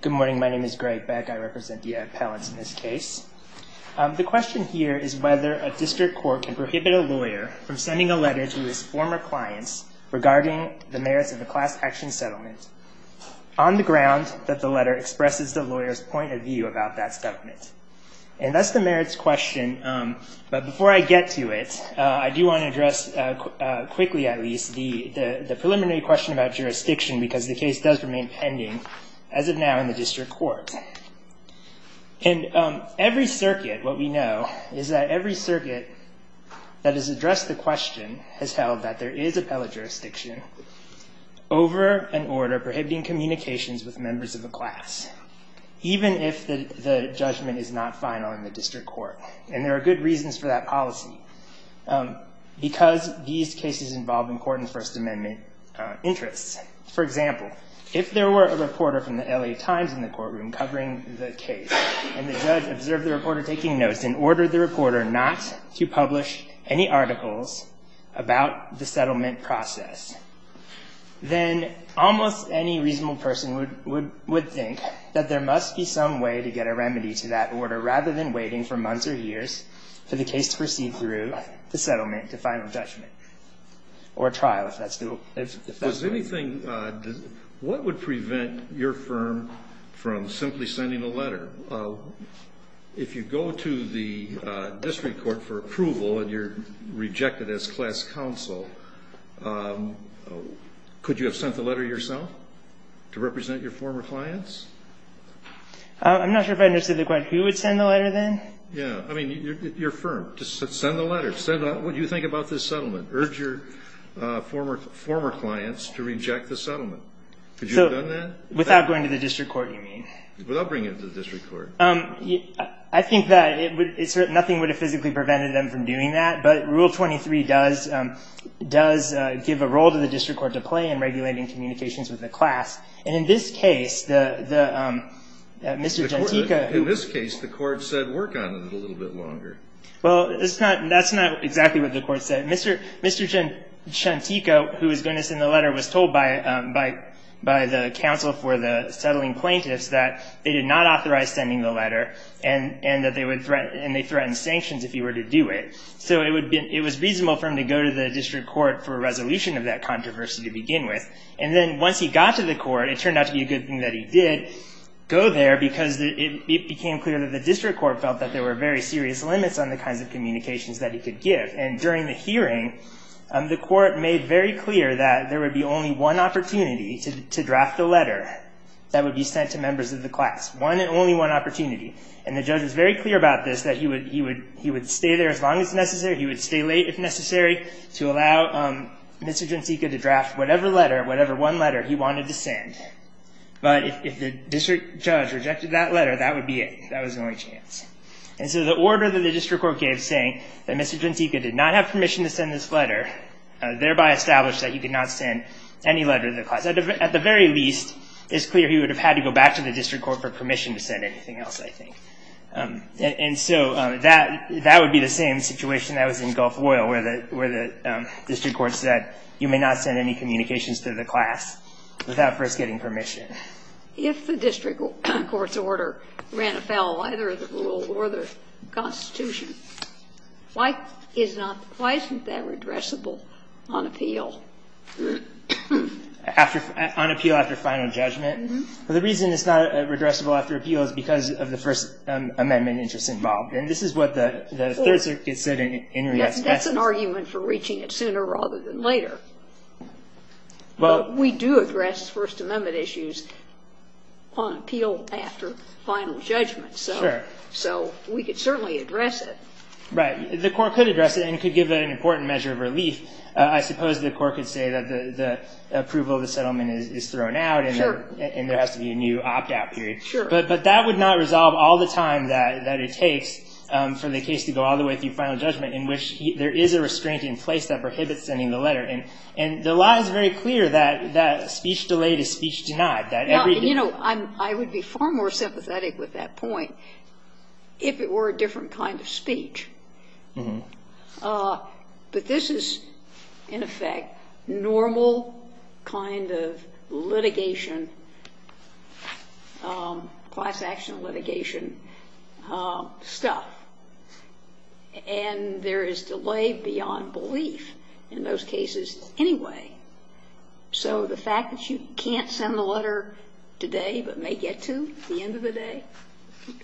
Good morning. My name is Greg Beck. I represent the appellants in this case. The question here is whether a district court can prohibit a lawyer from sending a letter to his former clients regarding the merits of a class action settlement on the ground that the letter expresses the lawyer's point of view about that settlement. And that's the merits question. But before I get to it, I do want to address quickly, at least, the preliminary question about jurisdiction, because the case does remain pending. As of now, in the district court, in every circuit, what we know is that every circuit that has addressed the question has held that there is appellate jurisdiction over an order prohibiting communications with members of a class, even if the judgment is not final in the district court. And there are good reasons for that policy, because these cases involve important First Amendment interests. For example, if there were a reporter from the LA Times in the courtroom covering the case, and the judge observed the reporter taking notes and ordered the reporter not to publish any articles about the settlement process, then almost any reasonable person would think that there must be some way to get a remedy to that order, rather than waiting for months or years for the case to proceed through the settlement to final judgment or trial, if that's the rule. If there's anything, what would prevent your firm from simply sending a letter? If you go to the district court for approval, and you're rejected as class counsel, could you have sent the letter yourself to represent your former clients? I'm not sure if I understood the question. Who would send the letter, then? Yeah, I mean, your firm. Send the letter. What do you think about this settlement? Urge your former clients to reject the settlement. Could you have done that? Without going to the district court, you mean? Without bringing it to the district court. I think that nothing would have physically prevented them from doing that. But Rule 23 does give a role to the district court to play in regulating communications with the class. And in this case, Mr. Gentica. In this case, the court said work on it a little bit longer. Well, that's not exactly what the court said. Mr. Gentica, who was going to send the letter, was told by the counsel for the settling plaintiffs that they did not authorize sending the letter, and that they threatened sanctions if he were to do it. So it was reasonable for him to go to the district court for a resolution of that controversy to begin with. And then once he got to the court, it turned out to be a good thing that he did go there, because it became clear that the district court felt that there were very serious limits on the kinds of communications that he could give. And during the hearing, the court made very clear that there would be only one opportunity to draft a letter that would be sent to members of the class. One and only one opportunity. And the judge was very clear about this, that he would stay there as long as necessary. He would stay late if necessary to allow Mr. Gentica to draft whatever letter, whatever one letter, he wanted to send. But if the district judge rejected that letter, that would be it. That was the only chance. And so the order that the district court gave saying that Mr. Gentica did not have permission to send this letter, thereby established that he could not send any letter to the class. At the very least, it's clear he would have had to go back to the district court for permission to send anything else, I think. And so that would be the same situation that was in Gulf Oil, where the district court said, you may not send any communications to the class without first getting permission. If the district court's order ran afoul of either the rule or the Constitution, why isn't that redressable on appeal? On appeal after final judgment? The reason it's not redressable after appeal is because of the First Amendment interest involved. And this is what the Third Circuit said in reaction. That's an argument for reaching it sooner rather than later. But we do address First Amendment issues on appeal after final judgment. So we could certainly address it. Right, the court could address it and could give it an important measure of relief. I suppose the court could say that the approval of the settlement is thrown out and there has to be a new opt-out period. But that would not resolve all the time that it takes for the case to go all the way through final judgment, in which there is a restraint in place that prohibits sending the letter. And the law is very clear that speech delayed is speech denied. You know, I would be far more sympathetic with that point if it were a different kind of speech. But this is, in effect, normal kind of litigation, class action litigation stuff. And there is delay beyond belief in those cases anyway. So the fact that you can't send the letter today but may get to at the end of the day,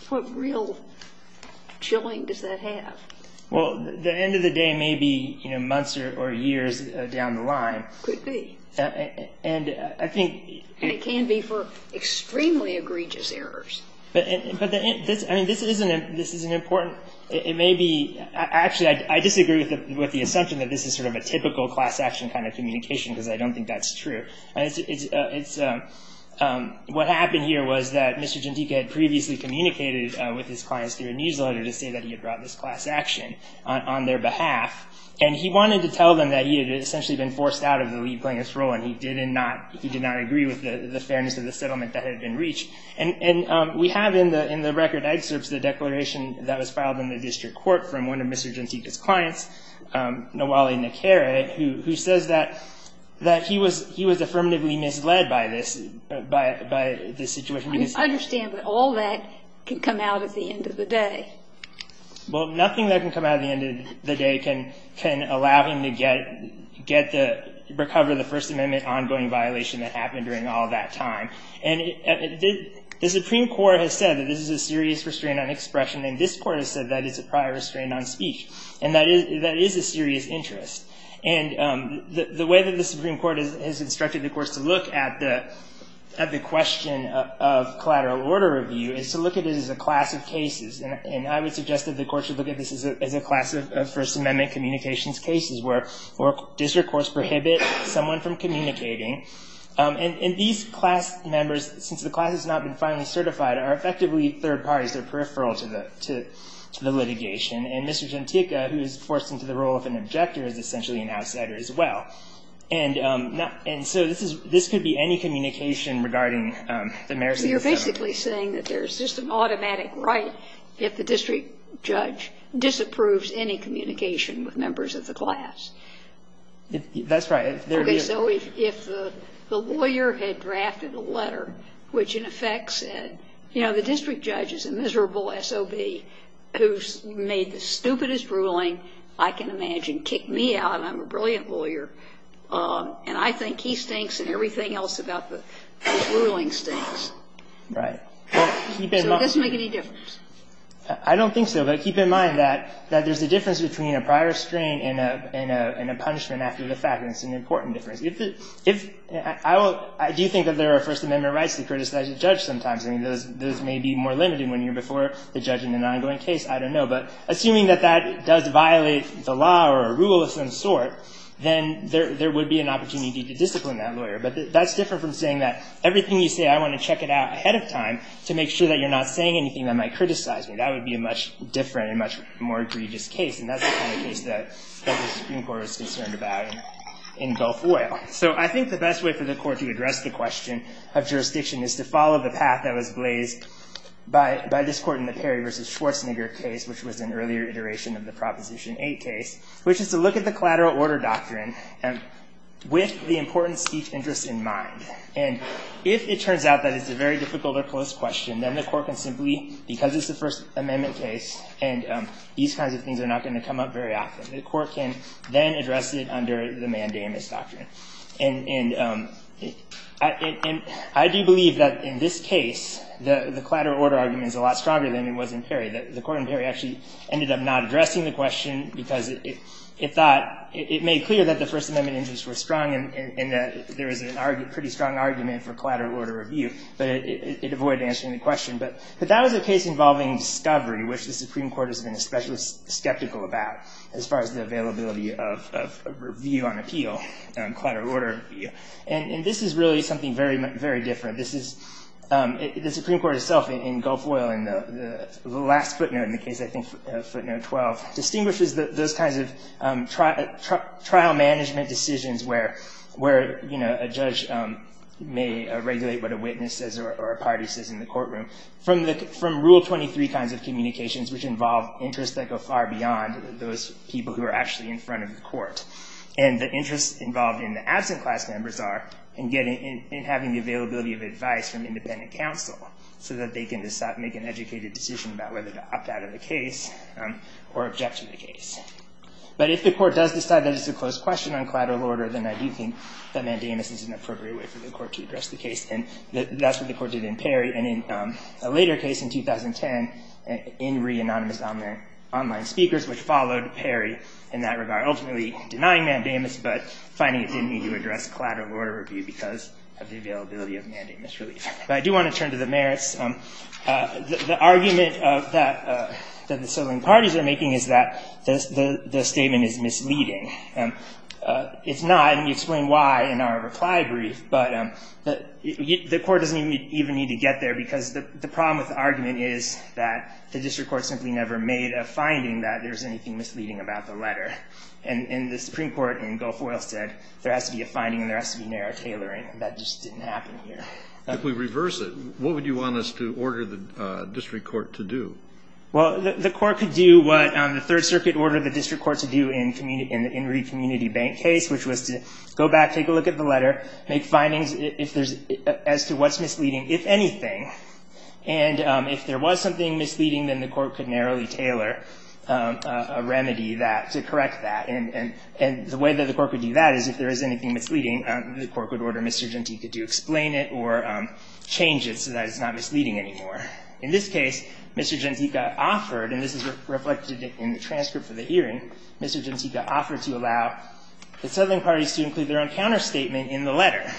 what real chilling does that have? Well, the end of the day may be months or years down the line. Could be. And I think it can be for extremely egregious errors. But this isn't important. It may be, actually, I disagree with the assumption that this is sort of a typical class action kind of communication, because I don't think that's true. What happened here was that Mr. Jantika had previously communicated with his clients through a newsletter to say that he had brought this class action on their behalf. And he wanted to tell them that he had essentially been forced out of the lead plaintiff's role, and he did not agree with the fairness of the settlement that had been reached. And we have in the record excerpts the declaration that was filed in the district court from one of Mr. Jantika's clients, Nawali Nekere, who says that he was affirmatively misled by this situation. I understand that all that can come out at the end of the day. Well, nothing that can come out at the end of the day can allow him to recover the First Amendment ongoing violation that happened during all that time. And the Supreme Court has said that this is a serious restraint on expression, and this court has said that it's a prior restraint on speech. And that is a serious interest. And the way that the Supreme Court has instructed the courts to look at the question of collateral order review is to look at it as a class of cases. And I would suggest that the courts should look at this as a class of First Amendment communications cases, where district courts prohibit someone from communicating. And these class members, since the class has not been finally certified, are effectively third parties. They're peripheral to the litigation. And Mr. Genticca, who is forced into the role of an objector, is essentially an outsider as well. And so this could be any communication regarding the merits of the First Amendment. So you're basically saying that there's just an automatic right if the district judge disapproves any communication with members of the class? That's right. OK, so if the lawyer had drafted a letter which, in effect, said, you know, the district judge is a miserable SOB who made the stupidest ruling I can imagine, kicked me out, and I'm a brilliant lawyer, and I think he stinks and everything else about the ruling stinks. Right. So it doesn't make any difference. I don't think so. But keep in mind that there's a difference between a prior strain and a punishment after the fact. And it's an important difference. If the, if, I will, I do think that there are First Amendment rights to criticize a judge sometimes. I mean, those may be more limited when you're before the judge in an ongoing case. I don't know. But assuming that that does violate the law or a rule of some sort, then there would be an opportunity to discipline that lawyer. But that's different from saying that everything you say, I want to check it out ahead of time to make sure that you're not saying anything that might criticize me. That would be a much different and much more egregious case. And that's the kind of case that the Supreme Court was concerned about in Belfoyle. So I think the best way for the court to address the question of jurisdiction is to follow the path that was blazed by this court in the Perry versus Schwarzenegger case, which was an earlier iteration of the Proposition 8 case, which is to look at the collateral order doctrine with the important speech interests in mind. And if it turns out that it's a very difficult or close question, then the court can simply, because it's a First Amendment case, and these kinds of things are not going to come up very often, the court can then address it under the mandamus doctrine. And I do believe that in this case, the collateral order argument is a lot stronger than it was in Perry. The court in Perry actually ended up not addressing the question, because it made clear that the First Amendment interests were strong, and that there is a pretty strong argument for collateral order review. But it avoided answering the question. But that was a case involving discovery, which the Supreme Court has been especially skeptical about, as far as the availability of review on appeal, collateral order review. And this is really something very, very different. The Supreme Court itself, in Gulf Oil, in the last footnote in the case, I think footnote 12, distinguishes those kinds of trial management decisions where a judge may regulate what a witness says or a party says in the courtroom from Rule 23 kinds of communications, which involve interests that go far beyond those people who are actually in front of the court. And the interests involved in the absent class members are in having the availability of advice from independent counsel, so that they can make an educated decision about whether to opt out of the case or object to the case. But if the court does decide that it's a close question on collateral order, then I do think that mandamus is an appropriate way for the court to address the case. And that's what the court did in Perry. And in a later case in 2010, in re-anonymous online speakers, which followed Perry in that regard, ultimately denying mandamus, but finding it didn't need to address collateral order review because of the availability of mandamus relief. But I do want to turn to the merits. The argument that the settling parties are making is that the statement is misleading. It's not, and we explain why in our reply brief. But the court doesn't even need to get there, because the problem with the argument is that the district court simply never made a finding that there's anything misleading about the letter. And the Supreme Court in Gulf Oil said there has to be a finding, and there has to be narrow tailoring. That just didn't happen here. If we reverse it, what would you want us to order the district court to do? Well, the court could do what the Third Circuit ordered the district court to do in the Enrique Community Bank case, which was to go back, take a look at the letter, make findings as to what's misleading, if anything. And if there was something misleading, then the court could narrowly tailor a remedy to correct that. And the way that the court would do that is if there is anything misleading, the court would order Mr. Gentica to explain it or change it so that it's not misleading anymore. In this case, Mr. Gentica offered, and this is reflected in the transcript for the hearing, Mr. Gentica offered to allow the settling parties to include their own counterstatement in the letter.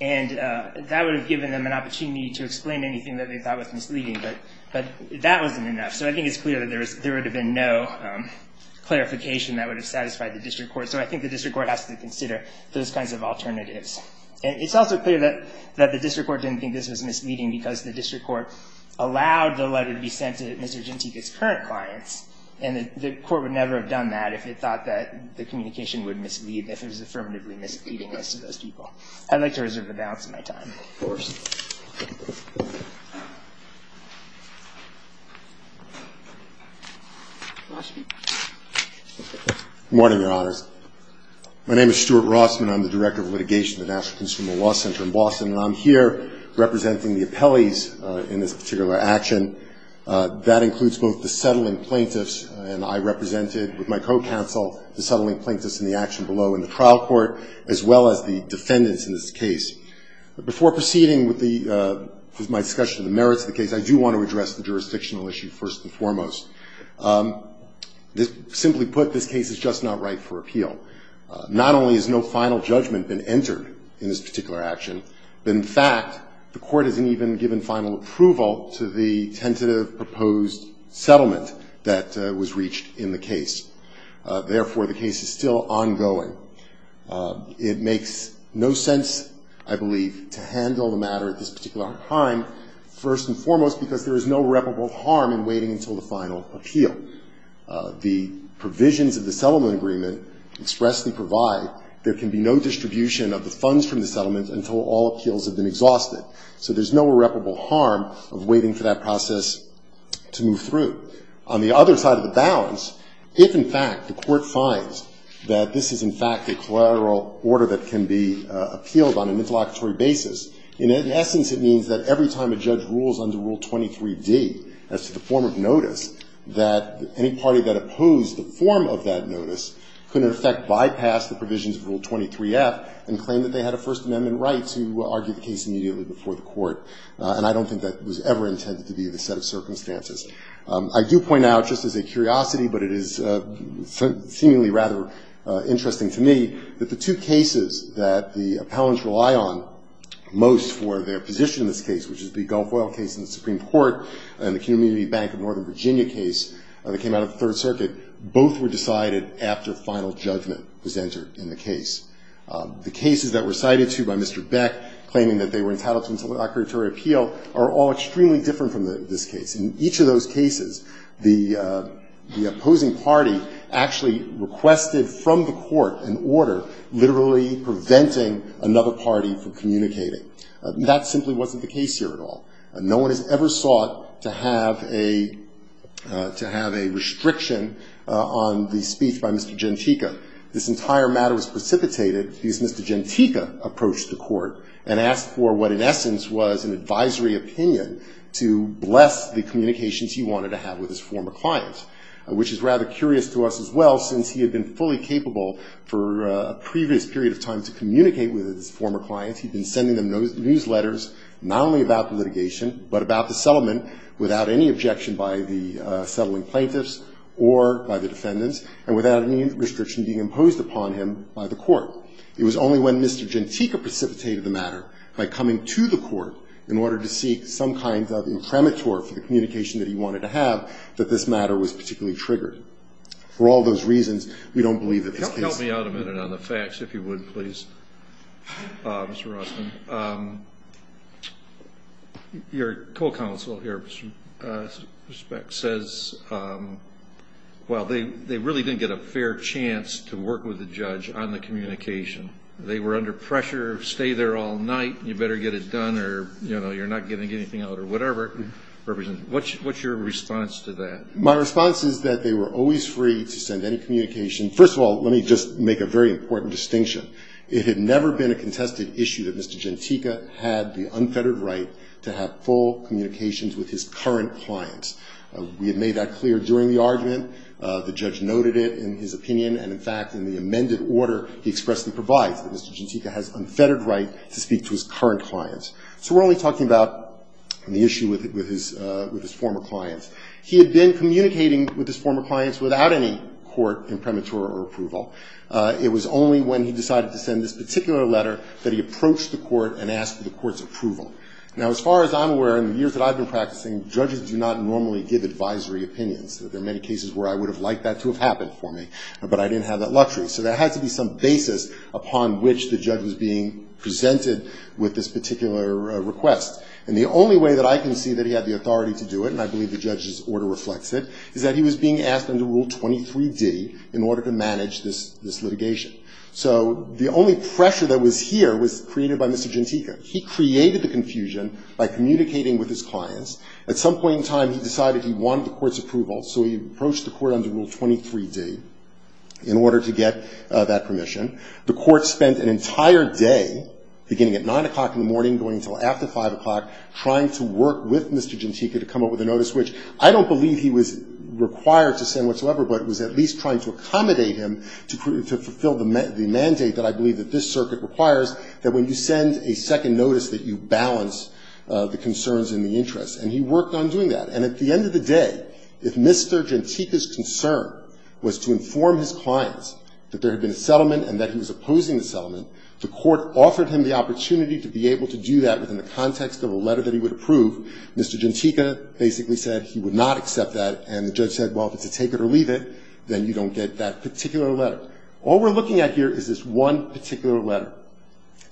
And that would have given them an opportunity to explain anything that they thought was misleading, but that wasn't enough. So I think it's clear that there would have been no clarification that would have satisfied the district court. So I think the district court has to consider those kinds of alternatives. And it's also clear that the district court didn't think this was misleading because the district court allowed the letter to be sent to Mr. Gentica's current clients. And the court would never have done that if it thought that the communication would mislead, if it was affirmatively misleading as to those people. I'd like to reserve the balance of my time. Of course. Rossman. Good morning, Your Honors. My name is Stuart Rossman. I'm the Director of Litigation at the National Consumer Law Center in Boston. And I'm here representing the appellees in this particular action. That includes both the settling plaintiffs, and I represented with my co-counsel the settling plaintiffs in the action below in the trial court, as well as the defendants in this case. Before proceeding with my discussion of the merits of the case, I do want to address the jurisdictional issue first and foremost. Simply put, this case is just not right for appeal. Not only has no final judgment been entered in this particular action, but in fact, the court hasn't even given final approval to the tentative proposed settlement that was reached in the case. Therefore, the case is still ongoing. It makes no sense, I believe, to handle the matter at this particular time, first and foremost, because there is no irreparable harm in waiting until the final appeal. The provisions of the settlement agreement expressly provide, there can be no distribution of the funds from the settlement until all appeals have been exhausted. So there's no irreparable harm of waiting for that process to move through. On the other side of the balance, if, in fact, the court finds that this is, in fact, a collateral order that can be appealed on an interlocutory basis, in essence, it means that every time a judge rules under Rule 23D, as to the form of notice, that any party that opposed the form of that notice could, in effect, bypass the provisions of Rule 23F and claim that they had a First Amendment right to argue the case immediately before the court. And I don't think that was ever intended to be the set of circumstances. I do point out, just as a curiosity, but it is seemingly rather interesting to me, that the two cases that the appellants rely on most for their position in this case, which is the Gulf Oil case in the Supreme Court and the Community Bank of Northern Virginia case that came out of the Third Circuit, both were decided after final judgment was entered in the case. The cases that were cited, too, by Mr. Beck, claiming that they were entitled to an interlocutory appeal are all extremely different from this case. In each of those cases, the opposing party actually requested from the court an order literally preventing another party from communicating. That simply wasn't the case here at all. No one has ever sought to have a restriction on the speech by Mr. Gentica. This entire matter was precipitated because Mr. Gentica approached the court and asked for what, in essence, was an advisory opinion to bless the communications he wanted to have with his former client, which is rather curious to us as well, since he had been fully capable for a previous period of time to communicate with his former clients. He'd been sending them newsletters not only about the litigation, but about the settlement without any objection by the settling plaintiffs or by the defendants, and without any restriction being imposed upon him by the court. It was only when Mr. Gentica precipitated the matter by coming to the court in order to seek some kind of imprimatur for the communication that he wanted to have that this matter was particularly triggered. For all those reasons, we don't believe that this case. Help me out a minute on the facts, if you would, please. Mr. Rosten, your co-counsel here, Mr. Speck, says, well, they really didn't get a fair chance to work with the judge on the communication. They were under pressure. Stay there all night. You better get it done or you're not getting anything out or whatever. What's your response to that? My response is that they were always free to send any communication. First of all, let me just make a very important distinction. It had never been a contested issue that Mr. Gentica had the unfettered right to have full communications with his current clients. We had made that clear during the argument. The judge noted it in his opinion. And in fact, in the amended order, he expressly provides that Mr. Gentica has unfettered right to speak to his current clients. So we're only talking about the issue with his former clients. He had been communicating with his former clients without any court imprimatur or approval. It was only when he decided to send this particular letter that he approached the court and asked for the court's approval. Now, as far as I'm aware, in the years that I've been practicing, judges do not normally give advisory opinions. There are many cases where I would have liked that to have happened for me, but I didn't have that luxury. So there had to be some basis upon which the judge was being presented with this particular request. And the only way that I can see that he had the authority to do it, and I believe the judge's order reflects it, is that he was being asked under Rule 23D in order to manage this litigation. So the only pressure that was here was created by Mr. Gentica. He created the confusion by communicating with his clients. At some point in time, he decided he wanted the court's approval. So he approached the court under Rule 23D in order to get that permission. The court spent an entire day, beginning at 9 o'clock in the morning, going until after 5 o'clock, trying to work with Mr. Gentica to come up with a notice, which I don't believe he was required to send whatsoever, but was at least trying to accommodate him to fulfill the mandate that I believe that this circuit requires, that when you send a second notice that you balance the concerns and the interests. And he worked on doing that. And at the end of the day, if Mr. Gentica's concern was to inform his clients that there had been a settlement and that he was opposing the settlement, the court offered him the opportunity to be able to do that within the context of a letter that he would approve. Mr. Gentica basically said he would not accept that. And the judge said, well, if it's a take it or leave it, then you don't get that particular letter. All we're looking at here is this one particular letter.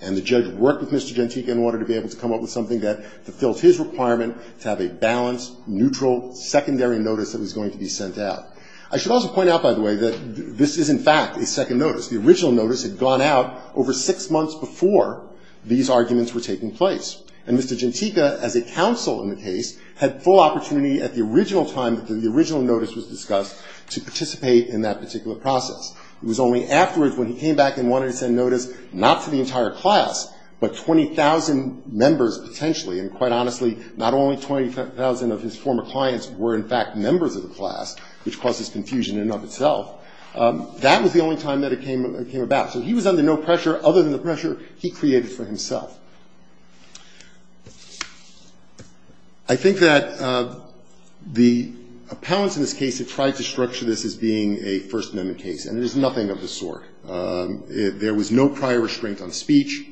And the judge worked with Mr. Gentica and wanted to be able to come up with something that fulfilled his requirement to have a balanced, neutral, secondary notice that was going to be sent out. I should also point out, by the way, that this is, in fact, a second notice. The original notice had gone out over six months before these arguments were taking place. And Mr. Gentica, as a counsel in the case, had full opportunity at the original time that the original notice was discussed to participate in that particular process. It was only afterwards when he came back and wanted to send notice not to the entire class, but 20,000 members potentially. And quite honestly, not only 20,000 of his former clients were, in fact, members of the class, which causes confusion in and of itself. That was the only time that it came about. So he was under no pressure other than the pressure he created for himself. I think that the appellants in this case have tried to structure this as being a First Amendment case. And it is nothing of the sort. There was no prior restraint on speech.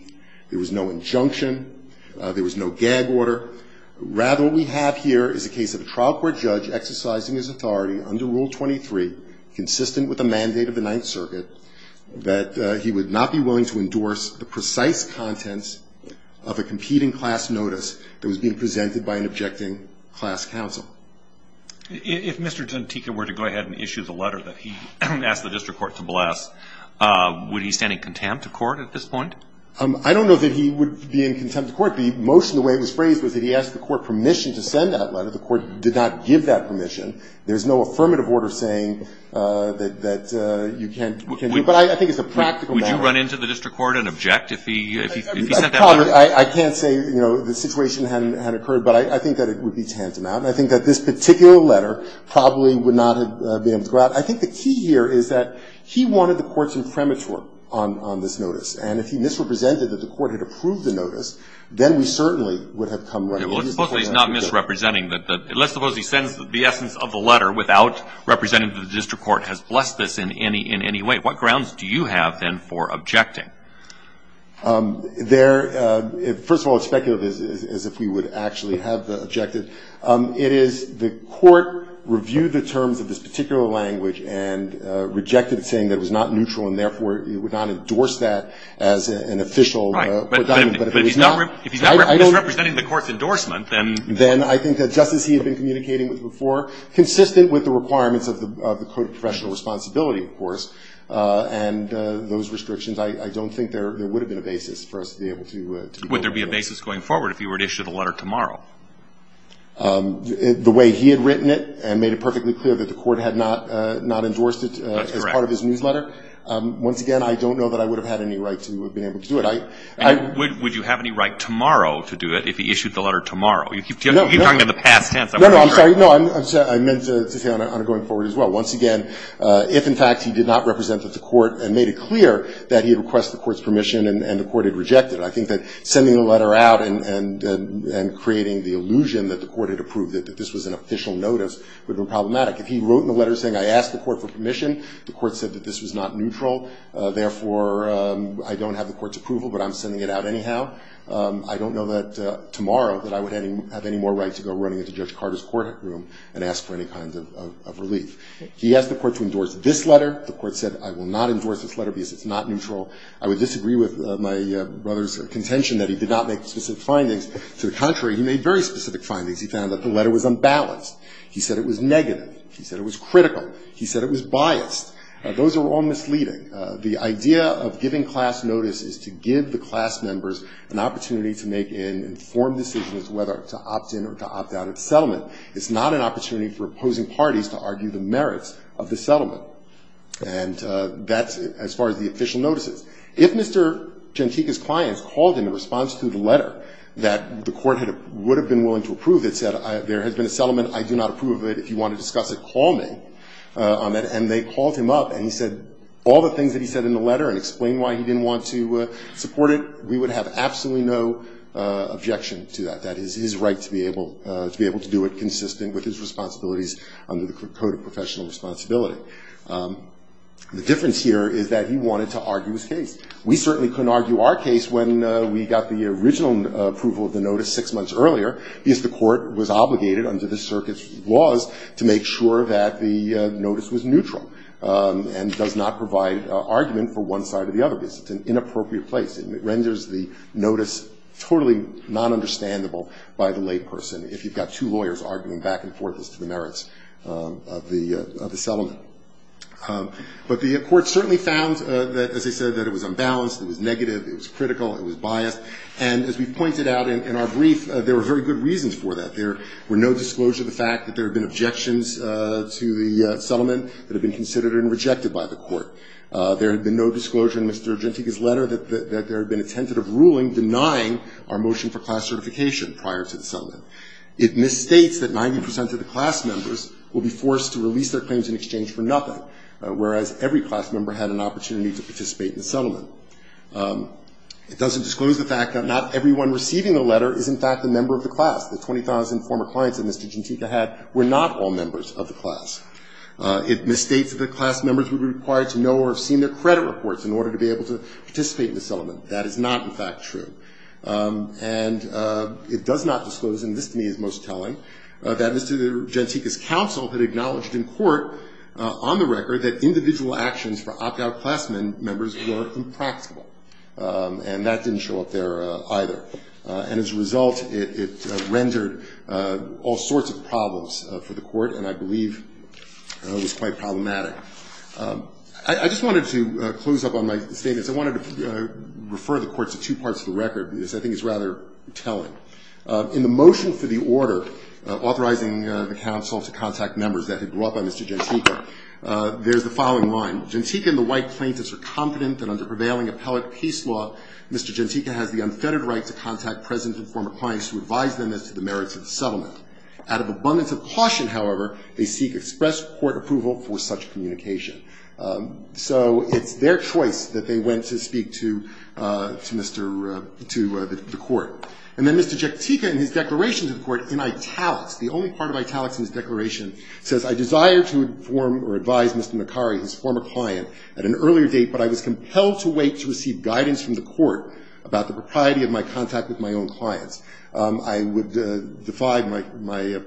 There was no injunction. There was no gag order. Rather, what we have here is a case of a trial court judge exercising his authority under Rule 23, consistent with the mandate of the Ninth Circuit, that he would not be willing to endorse the precise contents of a competing class notice that was being presented by an objecting class counsel. If Mr. Dantica were to go ahead and issue the letter that he asked the district court to bless, would he stand in contempt of court at this point? I don't know that he would be in contempt of court. The motion, the way it was phrased, was that he asked the court permission to send that letter. The court did not give that permission. There's no affirmative order saying that you can't do it. But I think it's a practical matter. Would you run into the district court and object if he sent that letter? I can't say the situation had occurred. But I think that it would be tantamount. I think that this particular letter probably would not have been able to go out. I think the key here is that he wanted the courts in premature on this notice. And if he misrepresented that the court had approved the notice, then we certainly would have come running into the court. Well, let's suppose he's not misrepresenting. Let's suppose he sends the essence of the letter without representing that the district court has blessed this in any way. What grounds do you have, then, for objecting? First of all, it's speculative as if we would actually have objected. It is the court reviewed the terms of this particular language and rejected it, saying that it was not neutral. And therefore, it would not endorse that as an official. Right, but if he's not misrepresenting the court's endorsement, then? Then I think that just as he had been communicating with before, consistent with the requirements of the Code of Professional Responsibility, of course, and those restrictions, I don't think there would have been a basis for us to be able to go forward. Would there be a basis going forward if you were to issue the letter tomorrow? The way he had written it and made it perfectly clear that the court had not endorsed it as part of his newsletter, once again, I don't know that I would have had any right to have been able to do it. Would you have any right tomorrow to do it if he issued the letter tomorrow? You keep talking about the past tense. No, no, I'm sorry. No, I meant to say on a going forward as well. Once again, if in fact he did not represent the court and made it clear that he had requested the court's permission and the court had rejected it, I think that sending the letter out and creating the illusion that the court had approved it, that this was an official notice, would have been problematic. If he wrote in the letter saying I asked the court for permission, the court said that this was not neutral. Therefore, I don't have the court's approval, but I'm sending it out anyhow. I don't know that tomorrow that I would have any more right to go running into Judge Carter's courtroom and ask for any kind of relief. He asked the court to endorse this letter. The court said I will not endorse this letter because it's not neutral. I would disagree with my brother's contention that he did not make specific findings. To the contrary, he made very specific findings. He found that the letter was unbalanced. He said it was negative. He said it was critical. He said it was biased. Those are all misleading. The idea of giving class notice is to give the class members an opportunity to make an informed decision as to whether to opt in or to opt out of the settlement. It's not an opportunity for opposing parties to argue the merits of the settlement. And that's as far as the official notices. If Mr. Chantika's clients called him in response to the letter that the court would have been willing to approve. It said there has been a settlement. I do not approve of it. If you want to discuss it, call me. And they called him up and he said all the things that he said in the letter and explained why he didn't want to support it. We would have absolutely no objection to that. That is his right to be able to do it consistent with his responsibilities under the Code of Professional Responsibility. The difference here is that he wanted to argue his case. We certainly couldn't argue our case when we got the original approval of the notice six months earlier because the court was obligated under the circuit's laws to make sure that the notice was neutral and does not provide argument for one side or the other because it's an inappropriate place. It renders the notice totally non-understandable by the layperson if you've got two lawyers arguing back and forth as to the merits of the settlement. But the court certainly found that, as I said, that it was unbalanced. It was negative. It was critical. It was biased. And as we pointed out in our brief, there were very good reasons for that. There were no disclosures of the fact that there had been objections to the settlement that had been considered and rejected by the court. There had been no disclosure in Mr. Gentiga's letter that there had been a tentative ruling denying our motion for class certification prior to the settlement. It misstates that 90% of the class members will be forced to release their claims in exchange for nothing, whereas every class member had an opportunity to participate in the settlement. It misstates that the member of the class, the 20,000 former clients that Mr. Gentiga had, were not all members of the class. It misstates that the class members would be required to know or have seen their credit reports in order to be able to participate in the settlement. That is not, in fact, true. And it does not disclose, and this to me is most telling, that Mr. Gentiga's counsel had acknowledged in court on the record that individual actions for opt-out class members were impractical. And that didn't show up there either. And as a result, it rendered all sorts of problems for the court, and I believe was quite problematic. I just wanted to close up on my statement. I wanted to refer the court to two parts of the record, because I think it's rather telling. In the motion for the order authorizing the counsel to contact members that had brought by Mr. Gentiga, there's the following line. Gentiga and the white plaintiffs are confident that under prevailing appellate peace law, Mr. Gentiga has the unfettered right to contact present and former clients who advise them as to the merits of the settlement. Out of abundance of caution, however, they seek express court approval for such communication. So it's their choice that they went to speak to Mr. to the court. And then Mr. Gentiga in his declaration to the court in italics, the only part of italics in his declaration, says, I desire to inform or advise Mr. Macari, his former client, at an earlier date, but I was compelled to wait to receive guidance from the court about the propriety of my contact with my own clients. I would defy my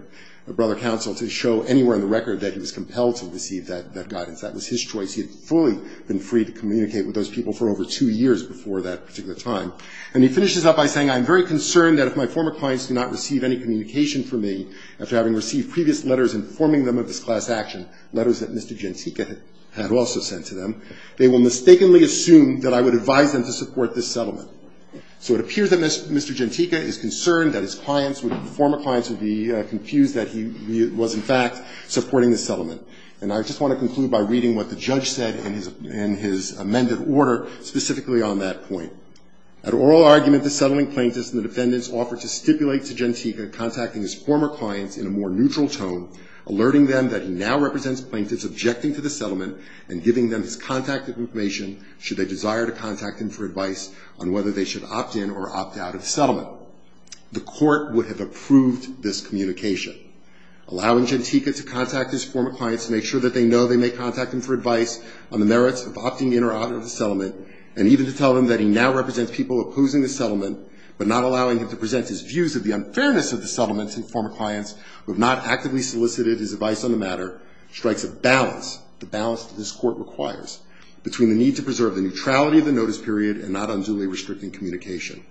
brother counsel to show anywhere in the record that he was compelled to receive that guidance. That was his choice. He had fully been free to communicate with those people for over two years before that particular time. And he finishes up by saying, I'm very concerned that if my former clients do not receive any communication from me after having received previous letters informing them of this class action, letters that Mr. Gentiga had also sent to them, they will mistakenly assume that I would advise them to support this settlement. So it appears that Mr. Gentiga is concerned that his clients, former clients would be confused that he was, in fact, supporting this settlement. And I just want to conclude by reading what the judge said in his amended order specifically on that point. At oral argument, the settling plaintiffs and the defendants offered to stipulate to Gentiga contacting his former clients in a more neutral tone, alerting them that he now represents plaintiffs objecting to the settlement and giving them his contact information should they desire to contact him for advice on whether they should opt in or opt out of the settlement. The court would have approved this communication, allowing Gentiga to contact his former clients to make sure that they know they may contact him for advice on the merits of opting in or out of the settlement, and even to tell him that he now represents people opposing the settlement, but not allowing him to present his views of the unfairness of the settlement to his former clients, who have not actively solicited his advice on the matter, strikes a balance, the balance that this court requires, between the need to preserve the neutrality of the notice period and not unduly restricting communication.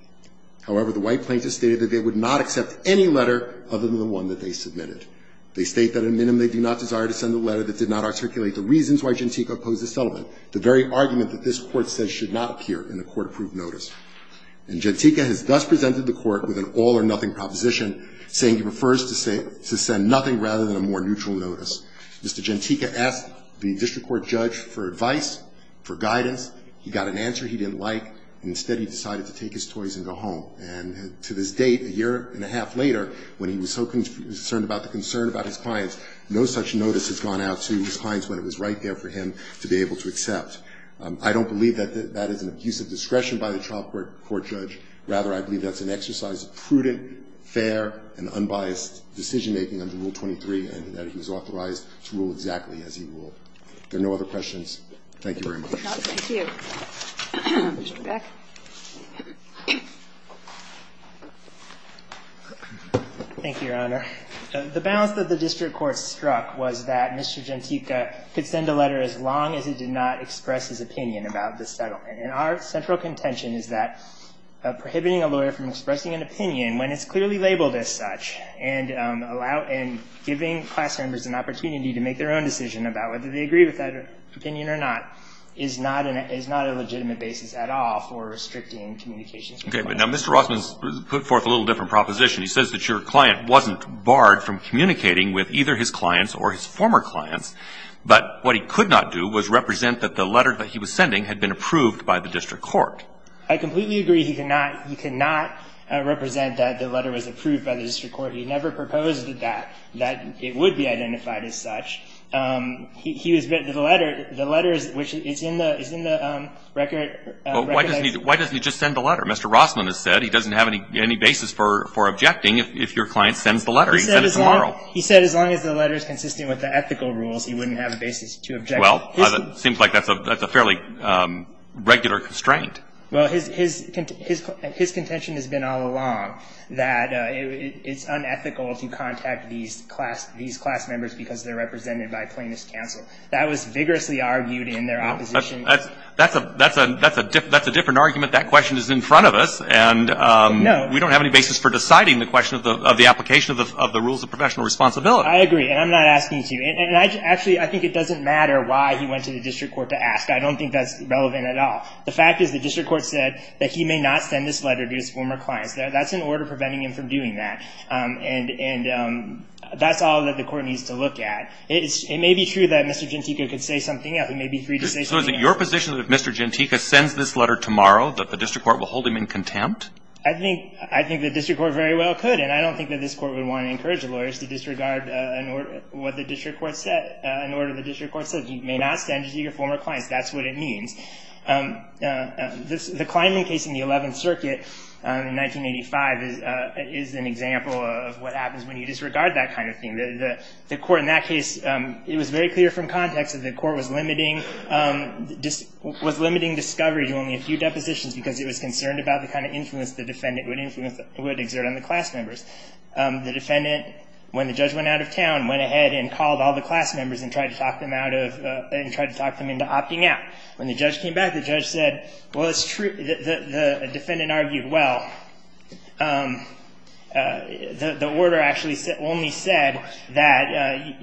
However, the white plaintiffs stated that they would not accept any letter other than the one that they submitted. They state that, in minimum, they do not desire to send a letter that did not articulate the reasons why Gentiga opposed the settlement, the very argument that this court says should not appear in a court-approved notice. And Gentiga has thus presented the court with an all or nothing proposition, saying he prefers to send nothing rather than a more neutral notice. Mr. Gentiga asked the district court judge for advice, for guidance. He got an answer he didn't like, and instead he decided to take his toys and go home. And to this date, a year and a half later, when he was so concerned about the concern about his clients, no such notice has gone out to his clients when it was right there for him to be able to accept. I don't believe that that is an abuse of discretion by the trial court judge. Rather, I believe that's an exercise of prudent, fair, and unbiased decision-making under Rule 23, and that he was authorized to rule exactly as he ruled. If there are no other questions, thank you very much. Thank you. Mr. Beck. Thank you, Your Honor. The balance that the district court struck was that Mr. Gentiga could send a letter as long as it did not express his opinion about the settlement. And our central contention is that prohibiting a lawyer from expressing an opinion when it's clearly labeled as such, and giving class members an opportunity to make their own decision about whether they agree with that opinion or not, is not a legitimate basis at all for restricting communications with clients. Okay, but now Mr. Rossman's put forth a little different proposition. He says that your client wasn't barred from communicating with either his clients or his former clients, but what he could not do was represent that the letter that he was sending had been approved by the district court. I completely agree he could not represent that the letter was approved by the district court. He never proposed that it would be identified as such. The letter is in the record. Why doesn't he just send the letter? Mr. Rossman has said he doesn't have any basis for objecting if your client sends the letter. He said as long as the letter is consistent with the ethical rules, he wouldn't have a basis to object. Well, it seems like that's a fairly regular constraint. Well, his contention has been all along that it's unethical to contact these class members because they're represented by plaintiff's counsel. That was vigorously argued in their opposition. That's a different argument. That question is in front of us, and we don't have any basis for deciding the question of the application of the rules of professional responsibility. I agree, and I'm not asking you to. And actually, I think it doesn't matter why he went to the district court to ask. I don't think that's relevant at all. The fact is the district court said that he may not send this letter to his former clients. That's an order preventing him from doing that, and that's all that the court needs to look at. It may be true that Mr. Gentica could say something else. He may be free to say something else. So is it your position that if Mr. Gentica sends this letter tomorrow, that the district court will hold him in contempt? I think the district court very well could, and I don't think that this court would want to encourage the lawyers to disregard an order the district court says. You may not send it to your former clients. That's what it means. The Kleinman case in the 11th Circuit in 1985 is an example of what happens when you disregard that kind of thing. The court in that case, it was very clear from context that the court was limiting discovery to only a few depositions because it was concerned about the kind of influence the defendant would exert on the class members. The defendant, when the judge went out of town, went ahead and called all the class members and tried to talk them into opting out. When the judge came back, the judge said, well, it's true. The defendant argued, well, the order actually only said that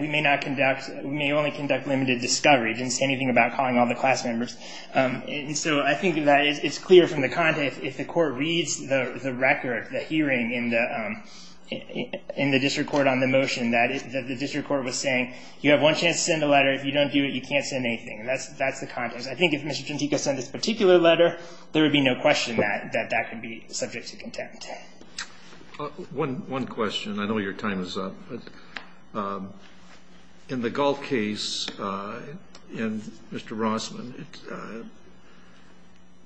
we may only conduct limited discovery. It didn't say anything about calling all the class members. So I think that it's clear from the context, if the court reads the record, the hearing in the district court on the motion, that the district court was saying, you have one chance to send a letter. If you don't do it, you can't send anything. That's the context. I think if Mr. Chantico sent this particular letter, there would be no question that that could be subject to contempt. One question. I know your time is up, but in the Gulf case, in Mr. Rossman,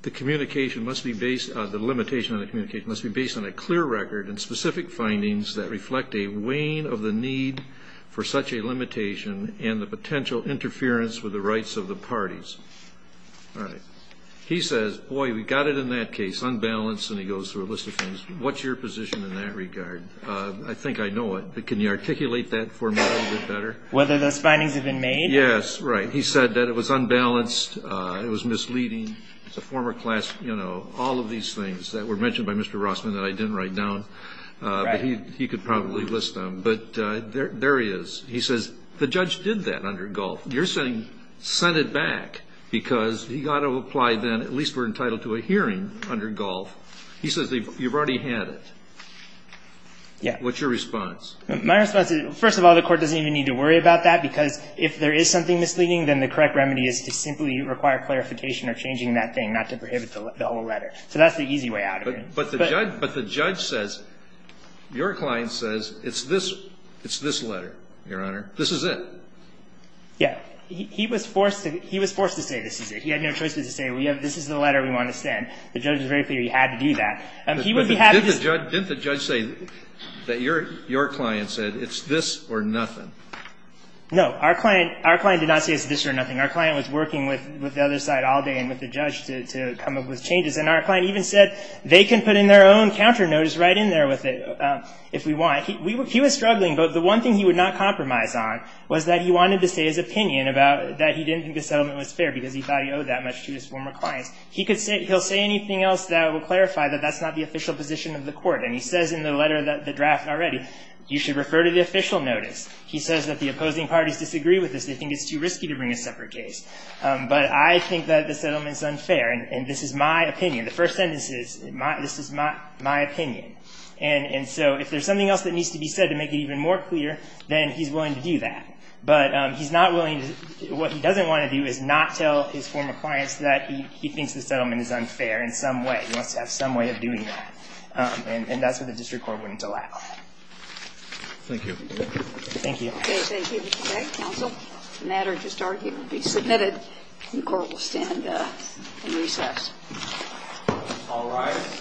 the communication must be based, the limitation on the communication must be based on a clear record and specific findings that reflect a weighing of the need for such a limitation and the potential interference with the rights of the parties. All right. He says, boy, we got it in that case, unbalanced, and he goes through a list of things. What's your position in that regard? I think I know it, but can you articulate that for me a little bit better? Whether those findings have been made? Yes, right. He said that it was unbalanced, it was misleading. It's a former class, you know, all of these things that were mentioned by Mr. Rossman that I didn't write down, but he could probably list them. But there he is. He says, the judge did that under Gulf. You're saying, send it back, because he got to apply then, at least we're entitled to a hearing under Gulf. He says, you've already had it. Yeah. What's your response? My response is, first of all, the court doesn't even need to worry about that, because if there is something misleading, then the correct remedy is to simply require clarification or changing that thing, not to prohibit the whole letter. So that's the easy way out of it. But the judge says, your client says, it's this letter, Your Honor. This is it. Yeah. He was forced to say, this is it. He had no choice but to say, this is the letter we want to send. The judge was very clear he had to do that. He would be happy to just- Didn't the judge say that your client said, it's this or nothing? No. Our client did not say it's this or nothing. Our client was working with the other side all day and with the judge to come up with changes. And our client even said, they can put in their own counter notice right in there with it, if we want. He was struggling. But the one thing he would not compromise on was that he wanted to say his opinion about that he didn't think the settlement was fair, because he thought he owed that much to his former clients. He'll say anything else that will clarify that that's not the official position of the court. And he says in the letter, the draft already, you should refer to the official notice. He says that the opposing parties disagree with this. They think it's too risky to bring a separate case. But I think that the settlement is unfair. And this is my opinion. The first sentence is, this is my opinion. And so if there's something else that needs to be said to make it even more clear, then he's willing to do that. But what he doesn't want to do is not tell his former clients that he thinks the settlement is unfair in some way. He wants to have some way of doing that. And that's what the district court wouldn't allow. Thank you. Thank you. The case is adjourned today, counsel. The matter to start here will be submitted. The court will stand in recess. All rise.